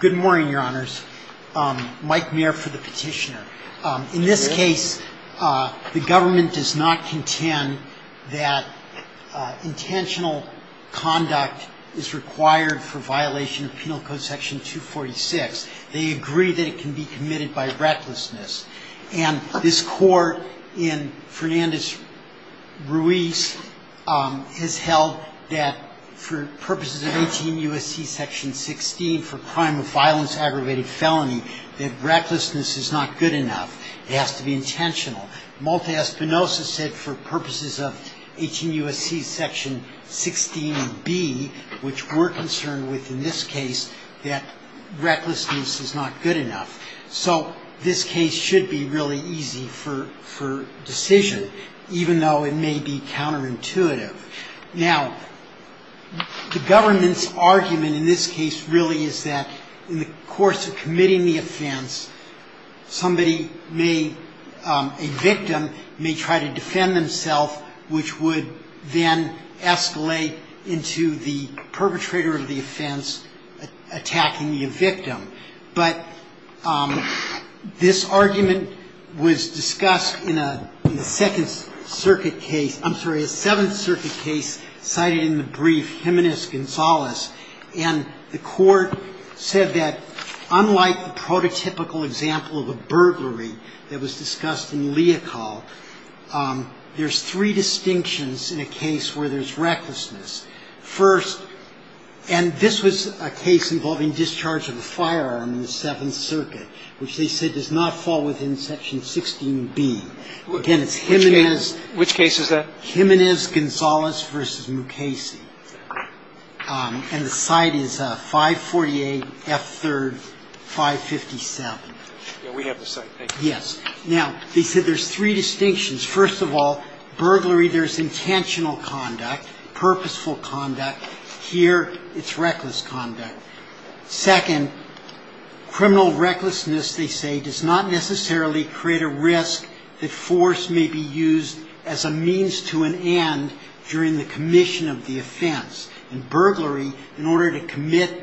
Good morning, Your Honors. Mike Mayer for the petitioner. In this case, the government does not contend that intentional conduct is required for violation of Penal Code Section 246. They agree that it can be committed by recklessness. And this Court in Fernandez-Ruiz has held that for purposes of 18 U.S.C. Section 16 for crime of violence, aggravated felony, that recklessness is not good enough. It has to be intentional. Multi-espinosa said for purposes of 18 U.S.C. Section 16b, which we're concerned with in this case, that recklessness is not good enough. So this case should be really easy for decision, even though it may be counterintuitive. Now, the government's argument in this case really is that in the course of committing the offense, somebody may, a victim, may try to defend themself, which would then escalate into the perpetrator of the offense attacking the victim. But this argument was discussed in a Second Circuit case, I'm sorry, a Seventh Circuit case cited in the brief Jimenez-Gonzalez. And the Court said that unlike the prototypical example of a burglary that was discussed in Leocal, there's three distinctions in a case where there's recklessness. First, and this was a case involving discharge of a firearm in the Seventh Circuit, which they said does not fall within Section 16b. Again, it's Jimenez. Which case is that? Jimenez-Gonzalez v. Mukasey. And the site is 548 F. 3rd, 557. Yeah, we have the site. Thank you. Yes. Now, they said there's three distinctions. First of all, burglary, there's intentional conduct, purposeful conduct. Here, it's reckless conduct. Second, criminal recklessness, they say, does not necessarily create a risk that force may be used as a means to an end during the commission of the offense. In burglary, in order to commit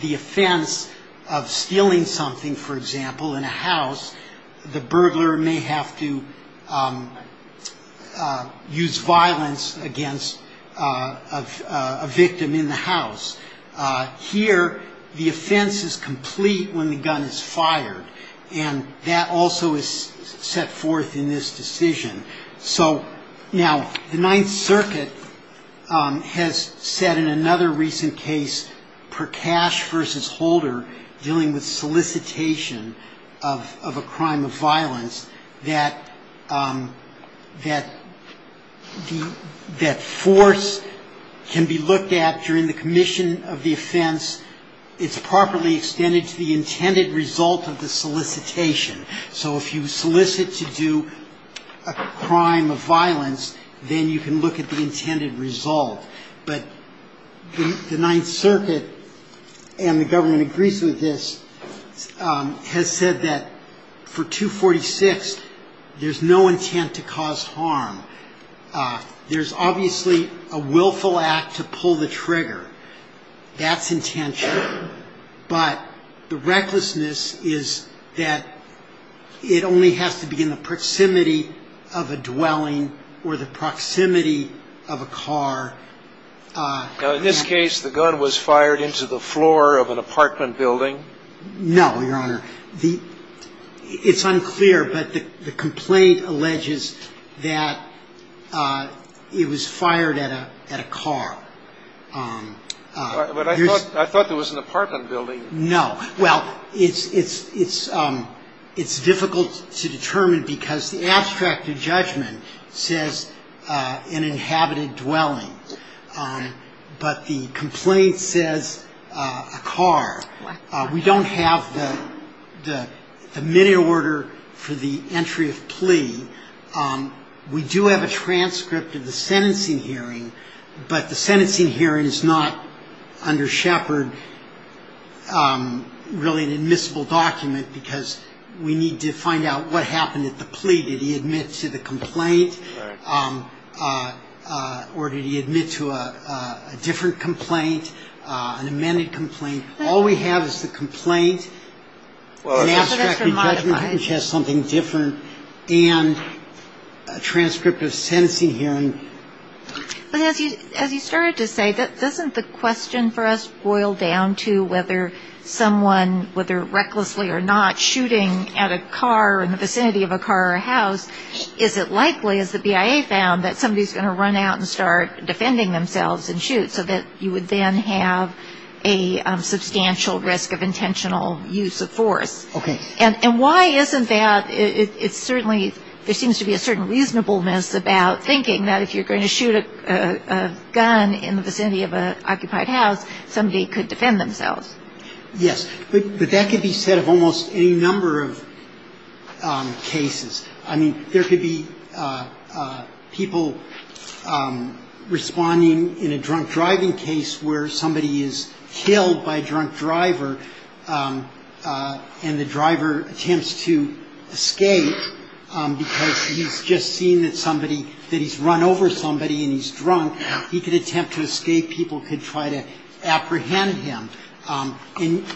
the offense of stealing something, for example, in a house, the burglar may have to use violence against a victim in the house. Here, the offense is complete when the gun is fired, and that also is set forth in this decision. Now, the Ninth Circuit has said in another recent case, Prakash v. Holder, dealing with solicitation of a crime of violence, that force can be looked at during the commission of the offense, it's properly extended to the intended result of the solicitation. So if you solicit to do a crime of violence, then you can look at the intended result. But the Ninth Circuit and the government agrees with this, has said that for 246, there's no intent to cause harm. There's obviously a willful act to pull the trigger. That's intentional. But the recklessness is that it only has to be in the proximity of a dwelling or the proximity of a car. In this case, the gun was fired into the floor of an apartment building. So, Your Honor, it's unclear, but the complaint alleges that it was fired at a car. But I thought there was an apartment building. No. Well, it's difficult to determine because the abstract of judgment says an inhabited dwelling. But the complaint says a car. We don't have the minute order for the entry of plea. We do have a transcript of the sentencing hearing, but the sentencing hearing is not under Shepard really an admissible document because we need to find out what happened at the plea. Did he admit to the complaint or did he admit to a different complaint, an amended complaint? All we have is the complaint, an abstract of judgment, which has something different, and a transcript of sentencing hearing. But as you started to say, doesn't the question for us boil down to whether someone, whether recklessly or not, shooting at a car in the vicinity of a car or a house, is it likely, as the BIA found, that somebody is going to run out and start defending themselves and shoot so that you would then have a substantial risk of intentional use of force? Okay. And why isn't that? It's certainly, there seems to be a certain reasonableness about thinking that if you're going to shoot a gun in the vicinity of an occupied house, somebody could defend themselves. Yes, but that could be said of almost any number of cases. I mean, there could be people responding in a drunk driving case where somebody is killed by a drunk driver and the driver attempts to escape because he's just seen that somebody, that he's run over somebody and he's drunk. He could attempt to escape. People could try to apprehend him.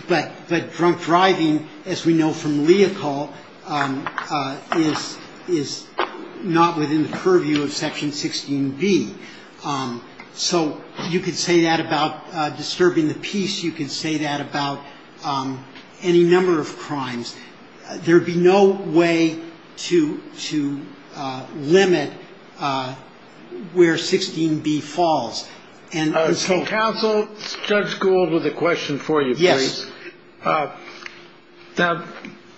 But drunk driving, as we know from Leocal, is not within the purview of Section 16B. So you could say that about disturbing the peace. You could say that about any number of crimes. There would be no way to limit where 16B falls. Counsel, Judge Gould with a question for you. Yes. Now,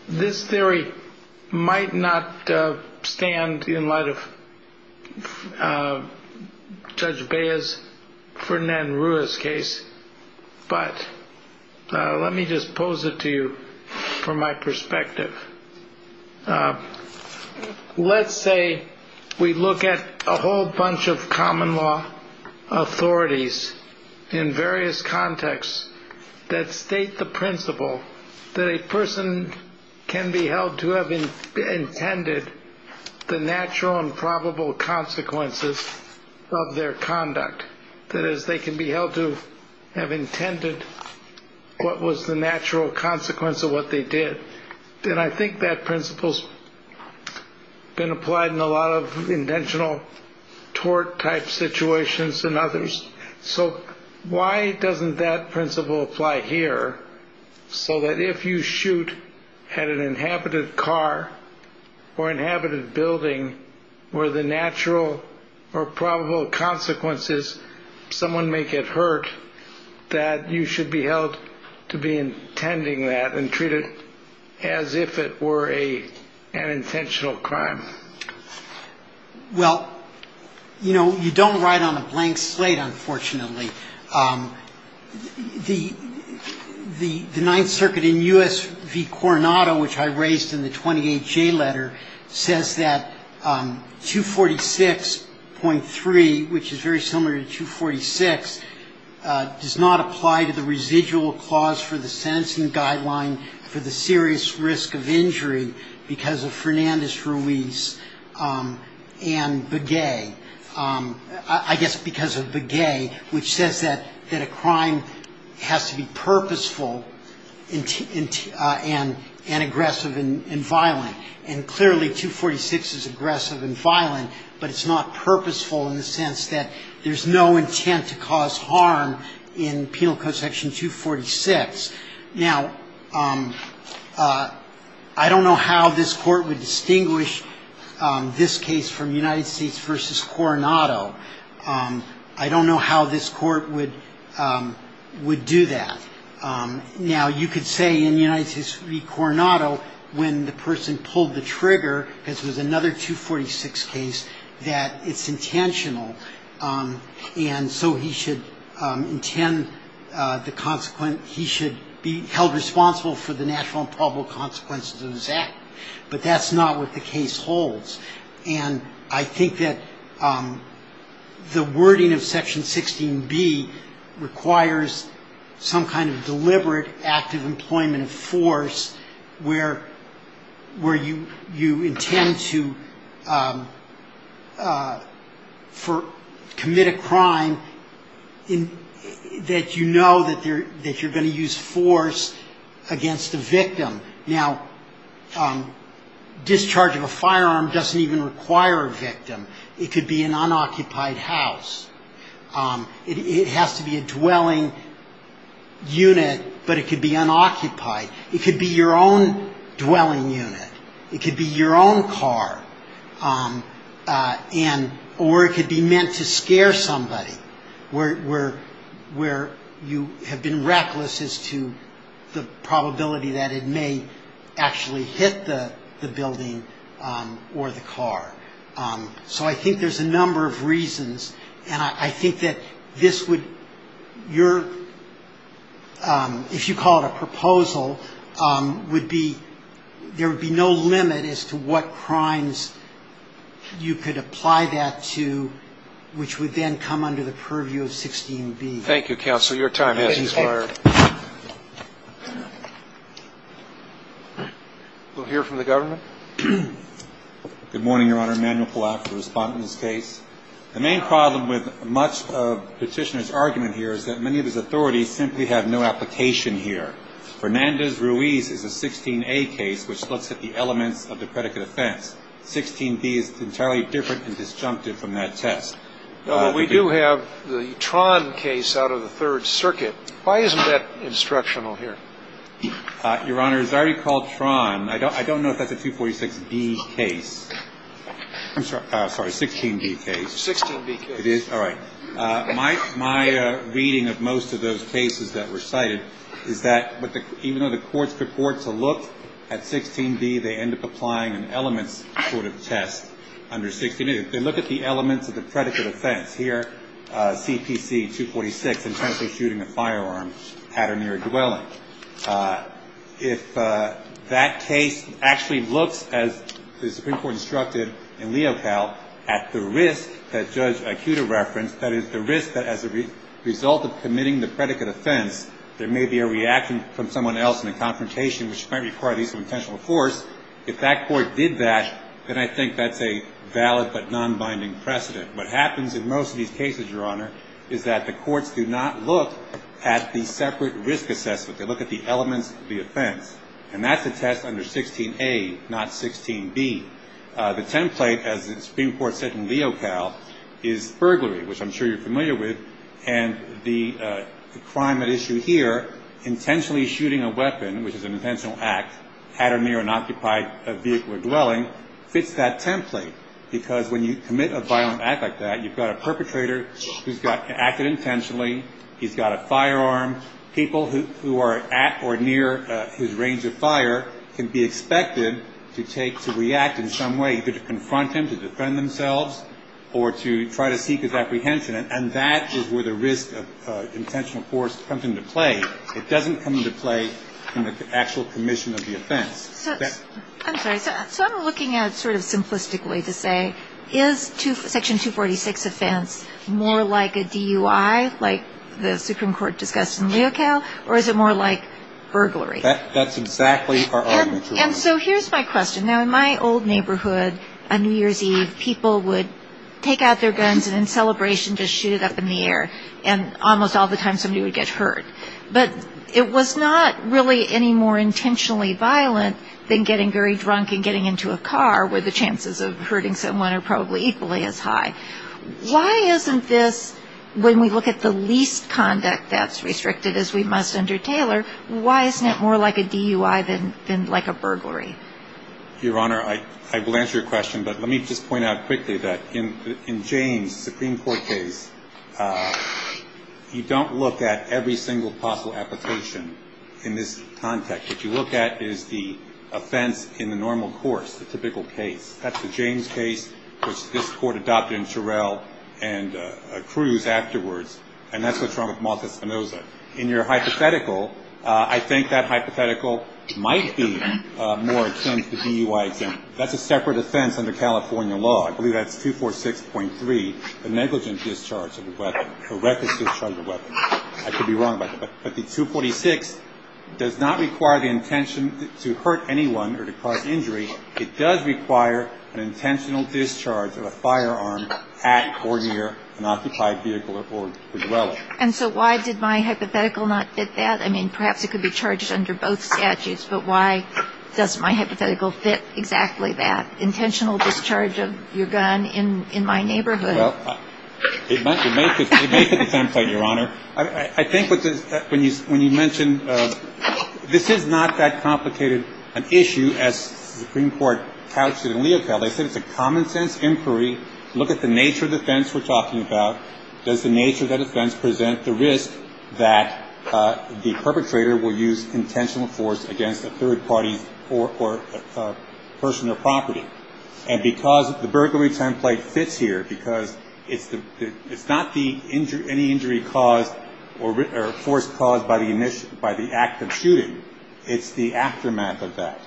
this theory might not stand in light of Judge Baez, Ferdinand Ruiz's case, but let me just pose it to you from my perspective. Let's say we look at a whole bunch of common law authorities in various contexts that state the principle that a person can be held to have intended the natural and probable consequences of their conduct. That is, they can be held to have intended what was the natural consequence of what they did. And I think that principle's been applied in a lot of intentional tort type situations and others. So why doesn't that principle apply here so that if you shoot at an inhabited car or inhabited building where the natural or probable consequences, someone may get hurt, that you should be held to be intending that and treat it as if it were an intentional crime? Well, you know, you don't write on a blank slate, unfortunately. The Ninth Circuit in U.S. v. Coronado, which I raised in the 28J letter, says that 246.3, which is very similar to 246, does not apply to the residual clause for the sentencing guideline for the serious risk of injury because of Fernandez-Ruiz and Begay. I guess because of Begay, which says that a crime has to be purposeful and aggressive and violent. And clearly 246 is aggressive and violent, but it's not purposeful in the sense that there's no intent to cause harm in Penal Code Section 246. Now, I don't know how this court would distinguish this case from United States v. Coronado. I don't know how this court would do that. Now, you could say in United States v. Coronado, when the person pulled the trigger, because it was another 246 case, that it's intentional. And so he should intend the consequence, he should be held responsible for the natural and probable consequences of his act. But that's not what the case holds. And I think that the wording of Section 16B requires some kind of deliberate act of employment of force where you intend to commit a crime that you know that you're going to use force against the victim. Now, discharge of a firearm doesn't even require a victim. It could be an unoccupied house. It has to be a dwelling unit, but it could be unoccupied. It could be your own dwelling unit. It could be your own car. And or it could be meant to scare somebody, where you have been reckless as to the probability that it may actually hit the building or the car. So I think there's a number of reasons. And I think that this would, your, if you call it a proposal, would be, there would be no limit as to what crimes you could apply that to, which would then come under the purview of 16B. Thank you, counsel. Your time has expired. We'll hear from the government. Good morning, Your Honor. Emanuel Collap, the respondent in this case. The main problem with much of Petitioner's argument here is that many of his authorities simply have no application here. Fernandez-Ruiz is a 16A case, which looks at the elements of the predicate offense. 16B is entirely different and disjunctive from that test. We do have the Tron case out of the Third Circuit. Why isn't that instructional here? Your Honor, it's already called Tron. I don't know if that's a 246B case. I'm sorry, 16B case. 16B case. It is? All right. My reading of most of those cases that were cited is that even though the courts purport to look at 16B, they end up applying an elements sort of test under 16B. They look at the elements of the predicate offense. Here, CPC 246, intentionally shooting a firearm at or near a dwelling. If that case actually looks, as the Supreme Court instructed in Leocal, at the risk that Judge Ikuda referenced, that is, the risk that as a result of committing the predicate offense, there may be a reaction from someone else in a confrontation which might require the use of intentional force, if that court did that, then I think that's a valid but nonbinding precedent. What happens in most of these cases, Your Honor, is that the courts do not look at the separate risk assessment. They look at the elements of the offense. And that's a test under 16A, not 16B. The template, as the Supreme Court said in Leocal, is burglary, which I'm sure you're familiar with. And the crime at issue here, intentionally shooting a weapon, which is an intentional act, at or near an occupied vehicle or dwelling, fits that template. Because when you commit a violent act like that, you've got a perpetrator who's acted intentionally. He's got a firearm. People who are at or near his range of fire can be expected to take, to react in some way, either to confront him, to defend themselves, or to try to seek his apprehension. And that is where the risk of intentional force comes into play. It doesn't come into play in the actual commission of the offense. I'm sorry. So I'm looking at sort of simplistically to say, is Section 246 offense more like a DUI, like the Supreme Court discussed in Leocal, or is it more like burglary? That's exactly our argument, Your Honor. And so here's my question. Now, in my old neighborhood, on New Year's Eve, people would take out their guns and in celebration just shoot it up in the air, and almost all the time somebody would get hurt. But it was not really any more intentionally violent than getting very drunk and getting into a car where the chances of hurting someone are probably equally as high. Why isn't this, when we look at the least conduct that's restricted, as we must under Taylor, why isn't it more like a DUI than like a burglary? Your Honor, I will answer your question, but let me just point out quickly that in Jane's Supreme Court case, you don't look at every single possible application in this context. What you look at is the offense in the normal course, the typical case. That's the Jane's case, which this Court adopted in Terrell and Cruz afterwards, and that's what's wrong with Malta-Spinoza. In your hypothetical, I think that hypothetical might be more akin to DUI. That's a separate offense under California law. I believe that's 246.3, a negligent discharge of a weapon, a reckless discharge of a weapon. I could be wrong about that. But the 246 does not require the intention to hurt anyone or to cause injury. It does require an intentional discharge of a firearm at or near an occupied vehicle or vehicle. And so why did my hypothetical not fit that? I mean, perhaps it could be charged under both statutes, but why doesn't my hypothetical fit exactly that? Well, it might fit the template, Your Honor. I think when you mentioned this is not that complicated an issue as the Supreme Court couched it in Leopold. They said it's a common-sense inquiry. Look at the nature of the offense we're talking about. Does the nature of that offense present the risk that the perpetrator will use intentional force against a third party or a person or property? And because the burglary template fits here because it's not any injury caused or force caused by the act of shooting. It's the aftermath of that.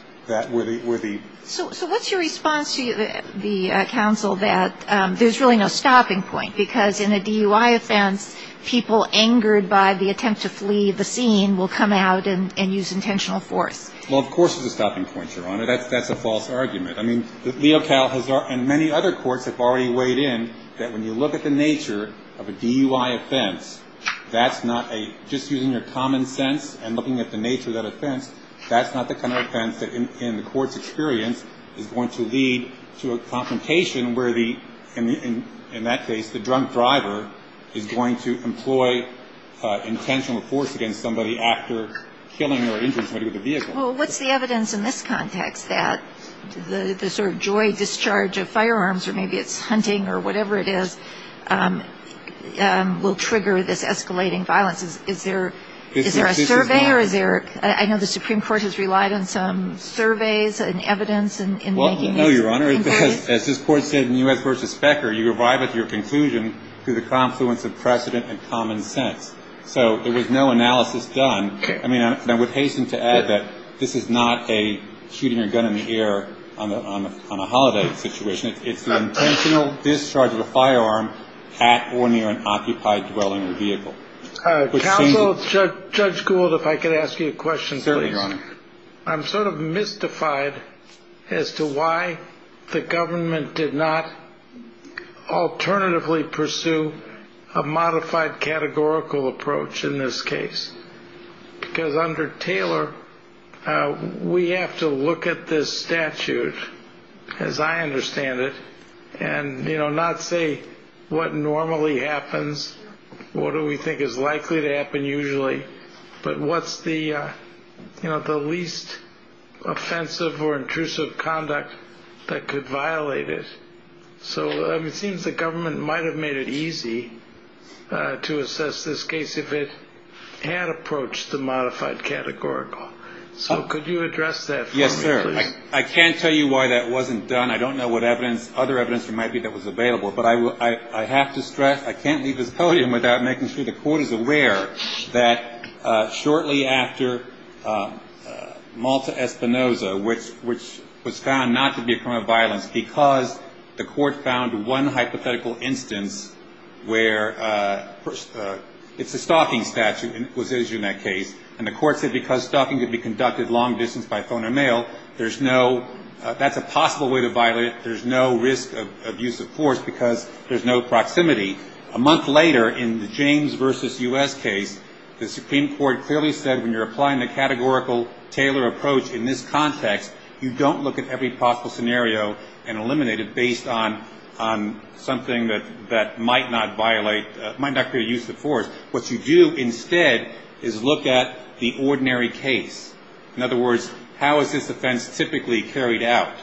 So what's your response to the counsel that there's really no stopping point because in a DUI offense, people angered by the attempt to flee the scene will come out and use intentional force? Well, of course there's a stopping point, Your Honor. That's a false argument. I mean, Leocal and many other courts have already weighed in that when you look at the nature of a DUI offense, that's not a just using your common sense and looking at the nature of that offense, that's not the kind of offense that in the court's experience is going to lead to a confrontation where in that case the drunk driver is going to employ intentional force against somebody after killing or injuring somebody with a vehicle. Well, what's the evidence in this context that the sort of joy discharge of firearms or maybe it's hunting or whatever it is will trigger this escalating violence? Is there a survey? I know the Supreme Court has relied on some surveys and evidence in making this. Well, no, Your Honor. As this Court said in U.S. v. Specker, you arrive at your conclusion through the confluence of precedent and common sense. So there was no analysis done. I mean, I would hasten to add that this is not a shooting a gun in the air on a holiday situation. It's an intentional discharge of a firearm at or near an occupied dwelling or vehicle. Counsel, Judge Gould, if I could ask you a question, please. Certainly, Your Honor. I'm sort of mystified as to why the government did not alternatively pursue a modified categorical approach in this case. Because under Taylor, we have to look at this statute, as I understand it, and not say what normally happens, what do we think is likely to happen usually, but what's the least offensive or intrusive conduct that could violate it. So it seems the government might have made it easy to assess this case if it had approached the modified categorical. So could you address that for me, please? Yes, sir. I can't tell you why that wasn't done. I don't know what other evidence there might be that was available. But I have to stress, I can't leave this podium without making sure the Court is aware that shortly after Malta-Espinoza, which was found not to be a crime of violence because the Court found one hypothetical instance where it's a stalking statute, and it was issued in that case, and the Court said because stalking could be conducted long distance by phone or mail, there's no ‑‑ that's a possible way to violate it. There's no risk of use of force because there's no proximity. A month later, in the James v. U.S. case, the Supreme Court clearly said when you're applying the categorical Taylor approach in this context, you don't look at every possible scenario and eliminate it based on something that might not violate, might not create use of force. What you do instead is look at the ordinary case. In other words, how is this offense typically carried out?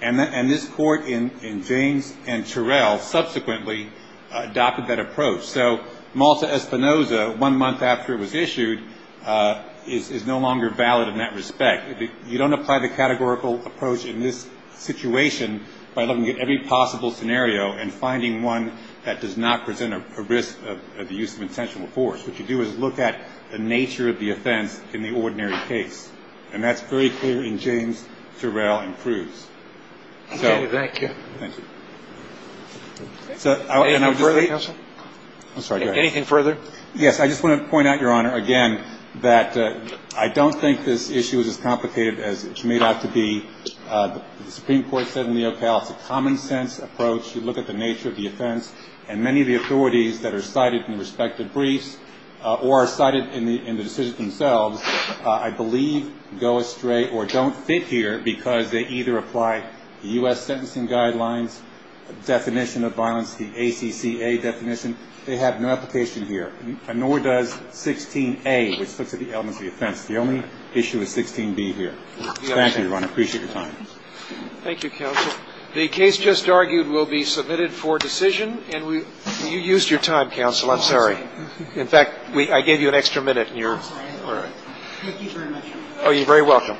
And this Court in James and Terrell subsequently adopted that approach. So Malta-Espinoza, one month after it was issued, is no longer valid in that respect. You don't apply the categorical approach in this situation by looking at every possible scenario and finding one that does not present a risk of the use of intentional force. What you do is look at the nature of the offense in the ordinary case. And that's very clear in James, Terrell, and Cruz. Okay, thank you. Thank you. Anything further, Counsel? I'm sorry, go ahead. Anything further? Yes, I just want to point out, Your Honor, again, that I don't think this issue is as complicated as it's made out to be. The Supreme Court said in the OCAL it's a common sense approach. You look at the nature of the offense, and many of the authorities that are cited in the respective briefs or are cited in the decisions themselves, I believe, go astray or don't fit here because they either apply the U.S. Sentencing Guidelines definition of violence, the ACCA definition. They have no application here, nor does 16A, which looks at the elements of the offense. The only issue is 16B here. Thank you, Your Honor. I appreciate your time. Thank you, Counsel. The case just argued will be submitted for decision, and you used your time, Counsel. I'm sorry. In fact, I gave you an extra minute. I'm sorry. All right. Thank you very much. Oh, you're very welcome.